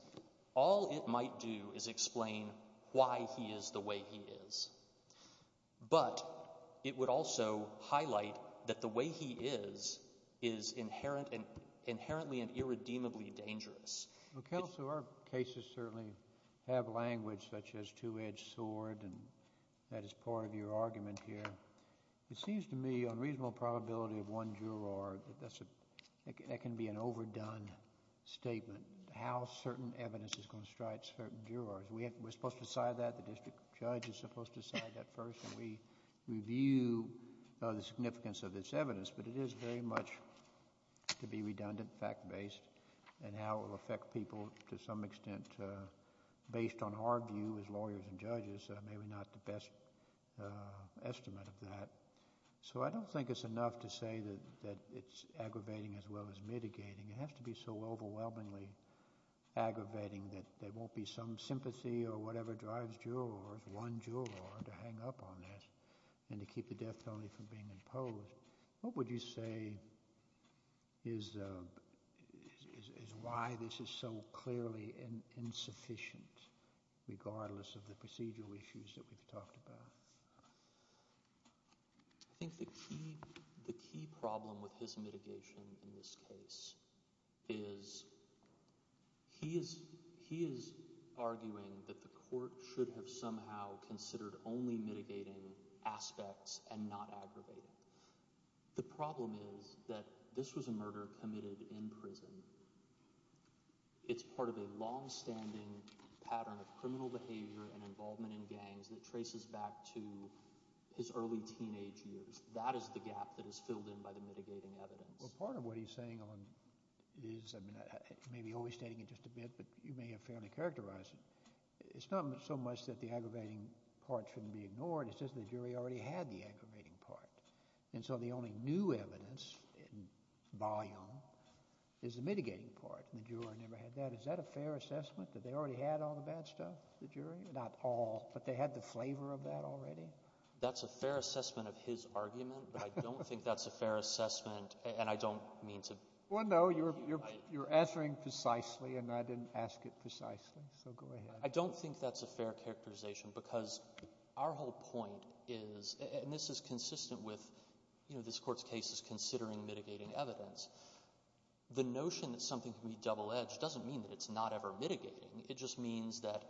all it might do is explain why he is the way he is, but it would also highlight that the way he is is inherently and irredeemably dangerous. Our cases certainly have language such as two-edged sword, and that is part of your argument here. It seems to me on reasonable probability of one juror, that can be an overdone statement, how certain evidence is going to strike certain jurors. We're supposed to decide that. The district judge is supposed to decide that first, and we review the significance of this evidence, but it is very much to be redundant, fact-based, and how it will affect people to some extent based on our view as lawyers and judges, maybe not the best estimate of that. So I don't think it's enough to say that it's aggravating as well as mitigating. It has to be so overwhelmingly aggravating that there won't be some sympathy or whatever drives jurors, one juror, to hang up on this and to keep the death penalty from being imposed. What would you say is why this is so clearly insufficient, regardless of the procedural issues that we've talked about? I think the key problem with his mitigation in this case is he is arguing that the court should have somehow considered only mitigating aspects and not aggravating. The problem is that this was a murder committed in prison. It's part of a longstanding pattern of criminal behavior and involvement in gangs that traces back to his early teenage years. That is the gap that is filled in by the mitigating evidence. Well, part of what he's saying is, I mean, I may be overstating it just a bit, but you may have fairly characterized it. It's not so much that the aggravating part shouldn't be ignored. It's just the jury already had the aggravating part, and so the only new evidence in volume is the mitigating part, and the juror never had that. Is that a fair assessment that they already had all the bad stuff, the jury? Not all, but they had the flavor of that already? That's a fair assessment of his argument, but I don't think that's a fair assessment, and I don't mean to— Well, no, you're answering precisely, and I didn't ask it precisely, so go ahead. I don't think that's a fair characterization because our whole point is, and this is consistent with this Court's case is considering mitigating evidence. The notion that something can be double-edged doesn't mean that it's not ever mitigating. It just means that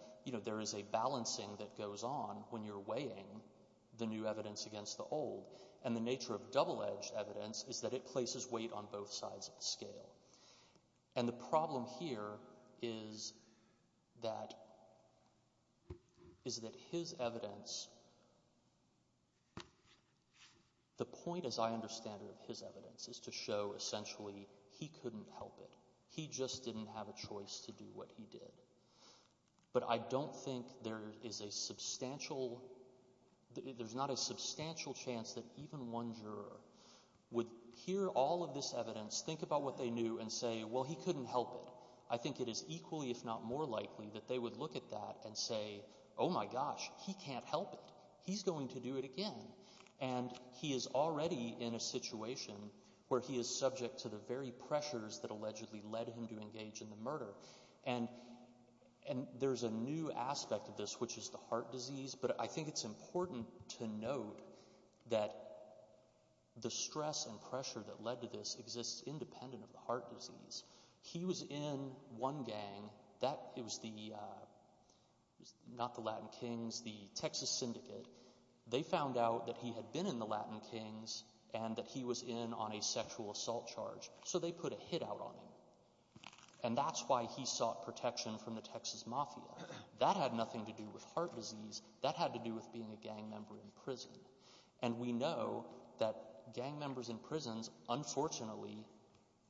there is a balancing that goes on when you're weighing the new evidence against the old, and the nature of double-edged evidence is that it places weight on both sides of the scale, and the problem here is that his evidence— the point, as I understand it, of his evidence is to show essentially he couldn't help it. He just didn't have a choice to do what he did, but I don't think there is a substantial— there's not a substantial chance that even one juror would hear all of this evidence, think about what they knew, and say, well, he couldn't help it. I think it is equally if not more likely that they would look at that and say, oh my gosh, he can't help it. He's going to do it again, and he is already in a situation where he is subject to the very pressures that allegedly led him to engage in the murder. And there's a new aspect of this, which is the heart disease, but I think it's important to note that the stress and pressure that led to this exists independent of the heart disease. He was in one gang. It was not the Latin Kings, the Texas Syndicate. They found out that he had been in the Latin Kings and that he was in on a sexual assault charge, so they put a hit out on him, and that's why he sought protection from the Texas Mafia. That had nothing to do with heart disease. That had to do with being a gang member in prison, and we know that gang members in prisons, unfortunately,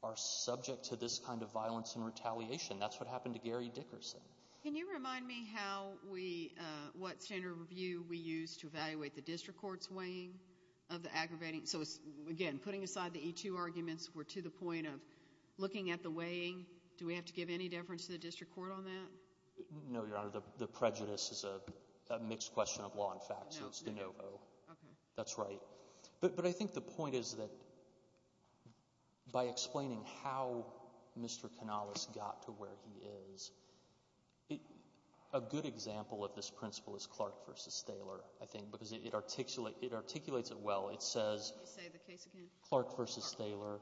are subject to this kind of violence and retaliation. That's what happened to Gary Dickerson. Can you remind me how we—what standard of review we used to evaluate the district court's weighing of the aggravating— so, again, putting aside the E2 arguments, we're to the point of looking at the weighing. Do we have to give any deference to the district court on that? No, Your Honor. The prejudice is a mixed question of law and fact, so it's de novo. Okay. That's right. But I think the point is that by explaining how Mr. Canales got to where he is, a good example of this principle is Clark v. Thaler, I think, because it articulates it well. It says Clark v. Thaler,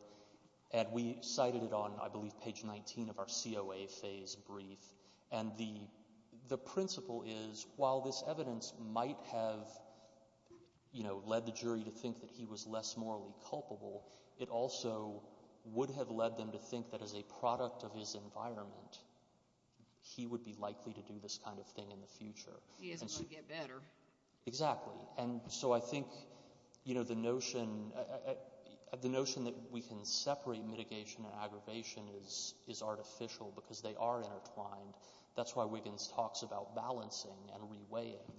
and we cited it on, I believe, page 19 of our COA phase brief. And the principle is while this evidence might have led the jury to think that he was less morally culpable, it also would have led them to think that as a product of his environment, he would be likely to do this kind of thing in the future. He is going to get better. Exactly. And so I think, you know, the notion that we can separate mitigation and aggravation is artificial because they are intertwined. That's why Wiggins talks about balancing and reweighing.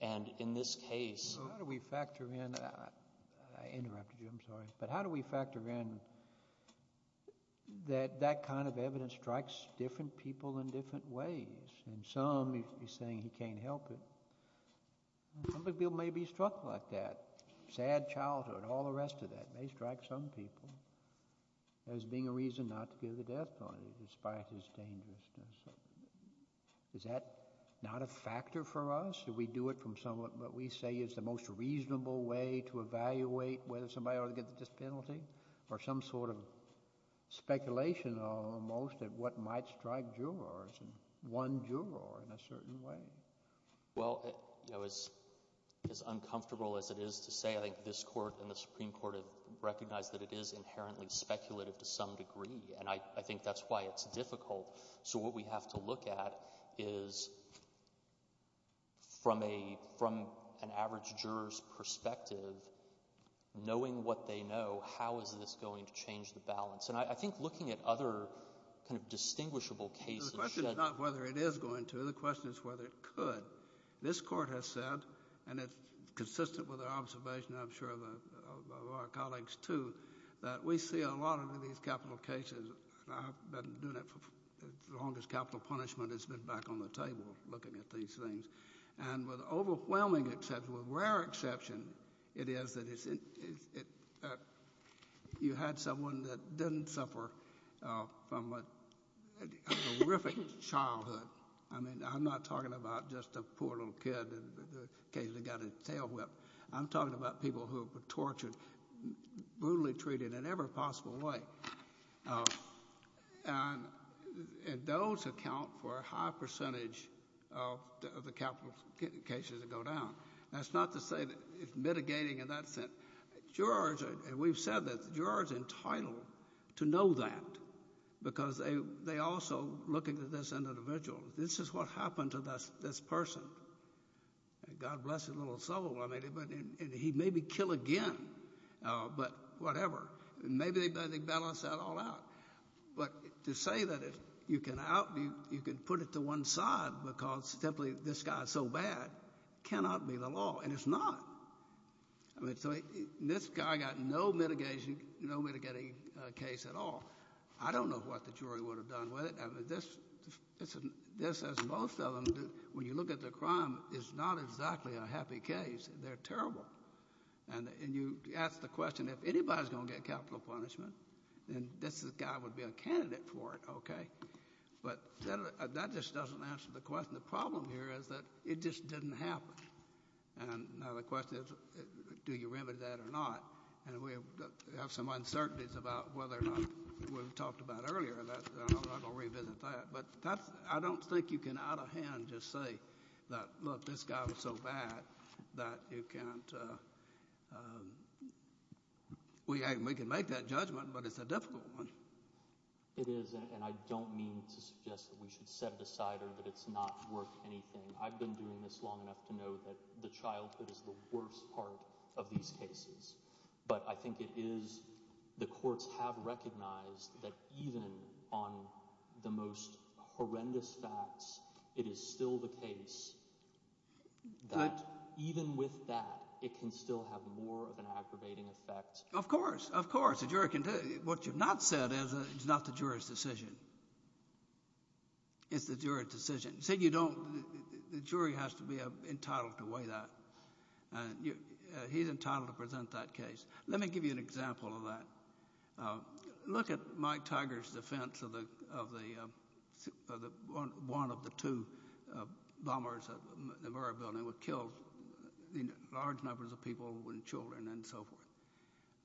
And in this case— How do we factor in—I interrupted you. I'm sorry. But how do we factor in that that kind of evidence strikes different people in different ways? In some, he's saying he can't help it. Some people may be struck like that. Sad childhood, all the rest of that may strike some people as being a reason not to give the death penalty despite his dangerousness. Is that not a factor for us? Do we do it from what we say is the most reasonable way to evaluate whether somebody ought to get the death penalty? Or some sort of speculation almost at what might strike jurors, one juror in a certain way. Well, you know, as uncomfortable as it is to say, I think this court and the Supreme Court have recognized that it is inherently speculative to some degree. And I think that's why it's difficult. So what we have to look at is from an average juror's perspective, knowing what they know, how is this going to change the balance? And I think looking at other kind of distinguishable cases— The question is not whether it is going to. The question is whether it could. But this court has said, and it's consistent with our observation, I'm sure of our colleagues too, that we see a lot of these capital cases— and I've been doing it for as long as capital punishment has been back on the table looking at these things— and with overwhelming exception, with rare exception, it is that you had someone that didn't suffer from a horrific childhood. I mean, I'm not talking about just a poor little kid that occasionally got his tail whipped. I'm talking about people who were tortured, brutally treated in every possible way. And those account for a high percentage of the capital cases that go down. That's not to say that it's mitigating in that sense. We've said that the juror is entitled to know that because they also look at this individual. This is what happened to this person. God bless his little soul. He may be killed again, but whatever. Maybe they balance that all out. But to say that you can put it to one side because simply this guy is so bad cannot be the law, and it's not. I mean, so this guy got no mitigating case at all. I don't know what the jury would have done with it. I mean, this, as most of them do, when you look at the crime, is not exactly a happy case. They're terrible. And you ask the question, if anybody's going to get capital punishment, then this guy would be a candidate for it, okay? But that just doesn't answer the question. The problem here is that it just didn't happen. And now the question is, do you remedy that or not? And we have some uncertainties about whether or not we talked about earlier. I'm going to revisit that. But I don't think you can out of hand just say that, look, this guy was so bad that you can't. We can make that judgment, but it's a difficult one. It is, and I don't mean to suggest that we should set it aside or that it's not worth anything. I've been doing this long enough to know that the childhood is the worst part of these cases. But I think it is the courts have recognized that even on the most horrendous facts, it is still the case. But even with that, it can still have more of an aggravating effect. Of course, of course. A jury can do it. What you've not said is it's not the jury's decision. It's the jury's decision. The jury has to be entitled to weigh that. He's entitled to present that case. Let me give you an example of that. Look at Mike Tiger's defense of one of the two bombers at the Murrah Building that killed large numbers of people and children and so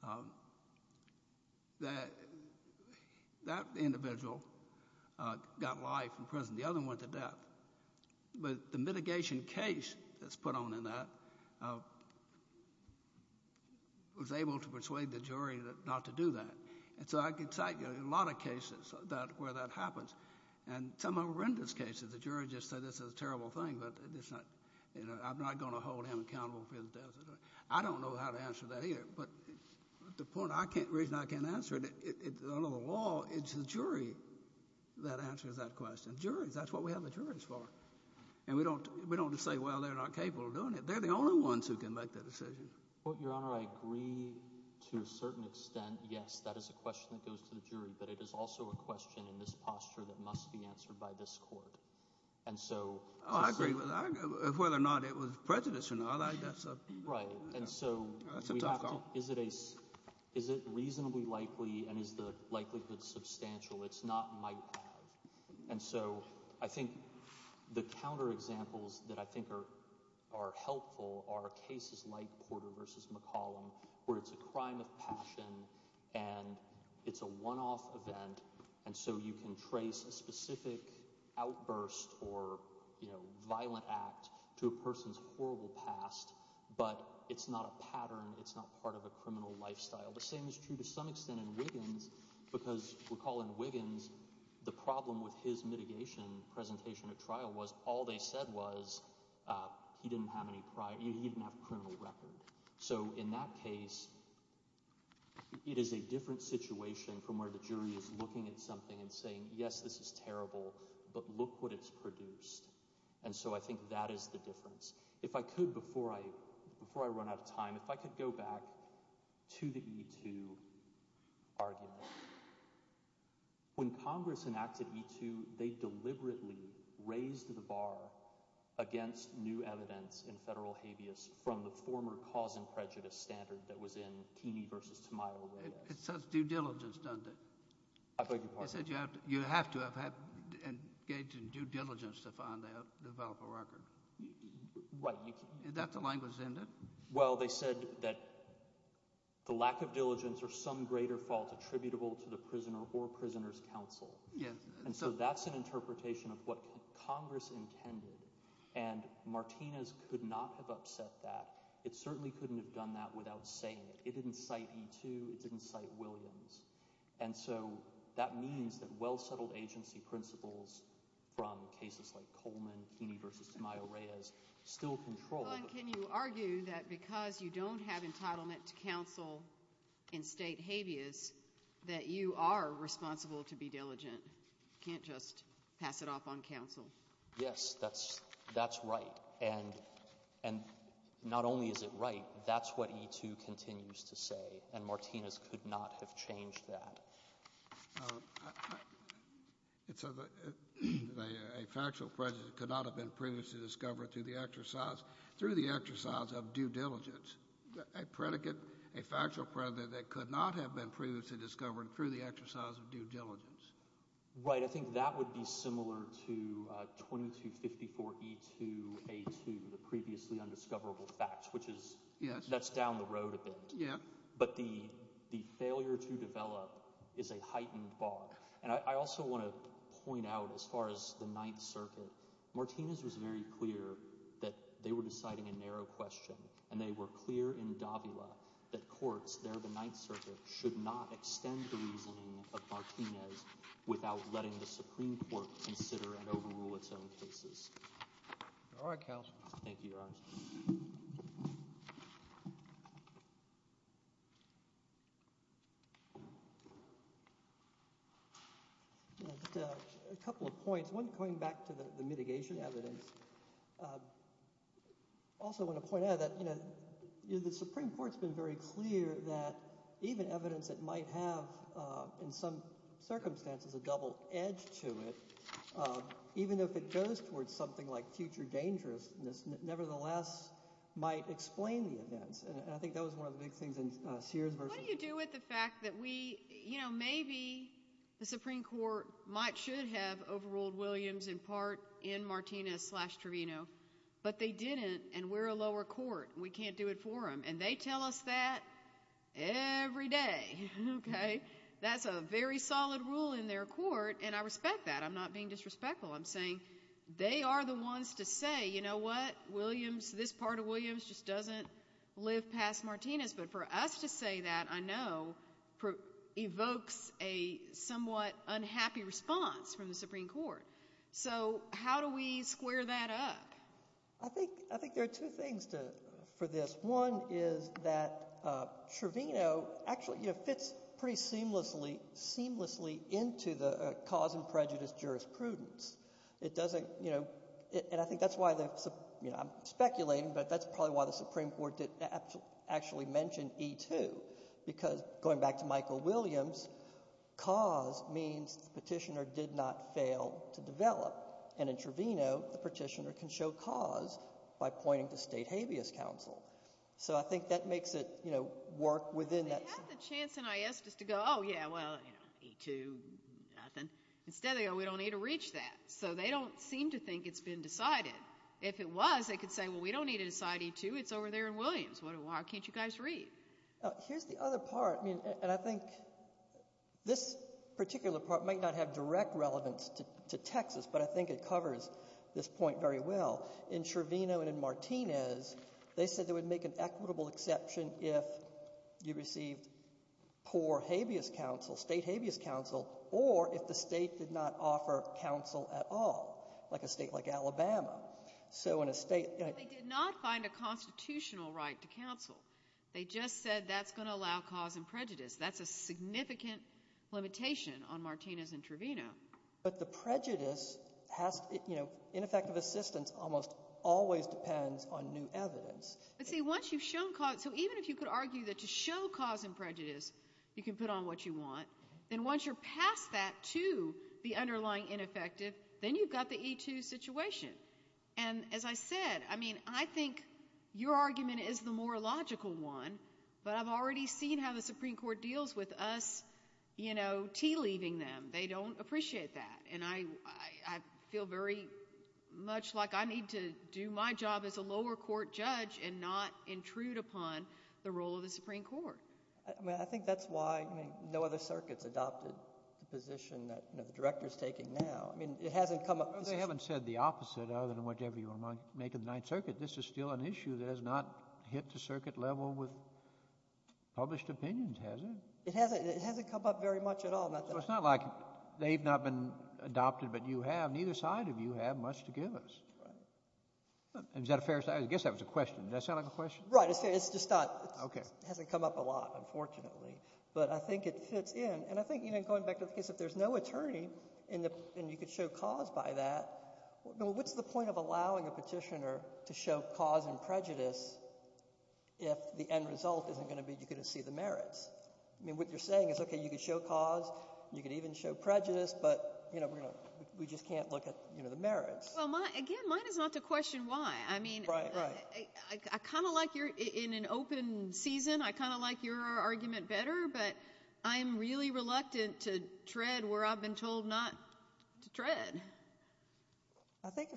forth. That individual got life in prison. The other one went to death. But the mitigation case that's put on in that was able to persuade the jury not to do that. And so I could cite a lot of cases where that happens, and some horrendous cases. The jury just said this is a terrible thing, but I'm not going to hold him accountable for his death. I don't know how to answer that either, but the reason I can't answer it, under the law, it's the jury that answers that question. Juries, that's what we have the juries for. And we don't just say, well, they're not capable of doing it. They're the only ones who can make that decision. Your Honor, I agree to a certain extent, yes, that is a question that goes to the jury. But it is also a question in this posture that must be answered by this court. I agree with that, whether or not it was prejudice or not. I like that stuff. Right. That's a tough call. Is it reasonably likely and is the likelihood substantial? It's not might have. And so I think the counterexamples that I think are helpful are cases like Porter v. McCollum where it's a crime of passion and it's a one-off event. And so you can trace a specific outburst or violent act to a person's horrible past, but it's not a pattern. It's not part of a criminal lifestyle. The same is true to some extent in Wiggins because, recall in Wiggins, the problem with his mitigation presentation at trial was all they said was he didn't have any prior – he didn't have a criminal record. So in that case, it is a different situation from where the jury is looking at something and saying, yes, this is terrible, but look what it's produced. And so I think that is the difference. If I could, before I run out of time, if I could go back to the E2 argument. When Congress enacted E2, they deliberately raised the bar against new evidence in federal habeas from the former cause and prejudice standard that was in Keeney v. Tamayo. It says due diligence, doesn't it? I beg your pardon? I said you have to have engaged in due diligence to develop a record. That's the language, isn't it? Well, they said that the lack of diligence or some greater fault attributable to the prisoner or prisoner's counsel. And so that's an interpretation of what Congress intended, and Martinez could not have upset that. It certainly couldn't have done that without saying it. It didn't cite E2. It didn't cite Williams. And so that means that well-settled agency principles from cases like Coleman, Keeney v. Tamayo, Reyes still control. Well, and can you argue that because you don't have entitlement to counsel in state habeas that you are responsible to be diligent? You can't just pass it off on counsel. Yes, that's right. And not only is it right, that's what E2 continues to say, and Martinez could not have changed that. A factual prejudice could not have been previously discovered through the exercise of due diligence. A predicate, a factual predicate that could not have been previously discovered through the exercise of due diligence. Right. I think that would be similar to 2254E2A2, the previously undiscoverable facts, which is down the road a bit. But the failure to develop is a heightened bar. And I also want to point out as far as the Ninth Circuit, Martinez was very clear that they were deciding a narrow question. And they were clear in Davila that courts there at the Ninth Circuit should not extend the reasoning of Martinez without letting the Supreme Court consider and overrule its own cases. All right, counsel. Thank you, Your Honor. A couple of points. One, going back to the mitigation evidence, I also want to point out that the Supreme Court has been very clear that even evidence that might have in some circumstances a double edge to it, even if it goes towards something like future dangerousness, nevertheless might explain the events. And I think that was one of the big things in Sears v. What do you do with the fact that maybe the Supreme Court should have overruled Williams in part in Martinez slash Trevino, but they didn't, and we're a lower court. We can't do it for them. And they tell us that every day. That's a very solid rule in their court. And I respect that. I'm not being disrespectful. I'm saying they are the ones to say, you know what, this part of Williams just doesn't live past Martinez. But for us to say that, I know, evokes a somewhat unhappy response from the Supreme Court. So how do we square that up? I think there are two things for this. One is that Trevino actually fits pretty seamlessly into the cause and prejudice jurisprudence. It doesn't, you know, and I think that's why the, you know, I'm speculating, but that's probably why the Supreme Court didn't actually mention E-2, because going back to Michael Williams, cause means the petitioner did not fail to develop. And in Trevino, the petitioner can show cause by pointing to state habeas counsel. So I think that makes it, you know, work within that. They had the chance in IS just to go, oh, yeah, well, you know, E-2, nothing. Instead they go, we don't need to reach that. So they don't seem to think it's been decided. If it was, they could say, well, we don't need to decide E-2, it's over there in Williams. Why can't you guys read? Here's the other part, and I think this particular part might not have direct relevance to Texas, but I think it covers this point very well. In Trevino and in Martinez, they said they would make an equitable exception if you received poor habeas counsel, state habeas counsel, or if the state did not offer counsel at all, like a state like Alabama. So in a state ñ They did not find a constitutional right to counsel. They just said that's going to allow cause and prejudice. That's a significant limitation on Martinez and Trevino. But the prejudice has, you know, ineffective assistance almost always depends on new evidence. But see, once you've shown cause ñ so even if you could argue that to show cause and prejudice you can put on what you want, then once you're past that to the underlying ineffective, then you've got the E-2 situation. And as I said, I mean, I think your argument is the more logical one, but I've already seen how the Supreme Court deals with us, you know, tea-leaving them. They don't appreciate that. And I feel very much like I need to do my job as a lower court judge and not intrude upon the role of the Supreme Court. I mean, I think that's why, I mean, no other circuit's adopted the position that, you know, the director's taking now. I mean, it hasn't come up. They haven't said the opposite other than whatever you want to make of the Ninth Circuit. This is still an issue that has not hit the circuit level with published opinions, has it? It hasn't come up very much at all. So it's not like they've not been adopted, but you have. Neither side of you have much to give us. Is that a fair? I guess that was a question. Did that sound like a question? Right. It's just not. Okay. It hasn't come up a lot, unfortunately. But I think it fits in. And I think, you know, going back to the case, if there's no attorney and you could show cause by that, what's the point of allowing a petitioner to show cause and prejudice if the end result isn't going to be you're going to see the merits? I mean, what you're saying is, okay, you could show cause, you could even show prejudice, but, you know, we just can't look at, you know, the merits. Well, again, mine is not to question why. I mean, I kind of like you're in an open season. I kind of like your argument better, but I am really reluctant to tread where I've been told not to tread. I think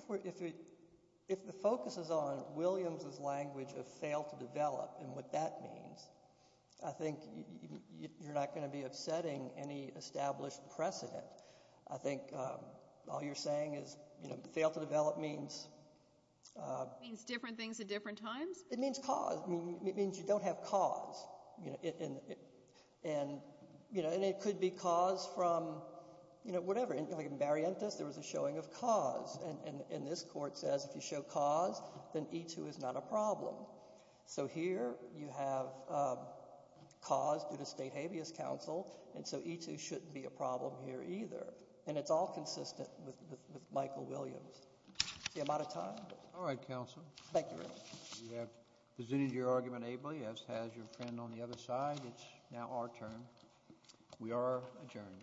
if the focus is on Williams' language of fail to develop and what that means, I think you're not going to be upsetting any established precedent. I think all you're saying is, you know, fail to develop means... Means different things at different times? It means cause. It means you don't have cause. And, you know, it could be cause from, you know, whatever. Like in Barrientos, there was a showing of cause, and this court says if you show cause, then E2 is not a problem. So here you have cause due to state habeas counsel, and so E2 shouldn't be a problem here either. And it's all consistent with Michael Williams. See, I'm out of time. All right, counsel. Thank you. You have presented your argument ably, as has your friend on the other side. It's now our turn. We are adjourned.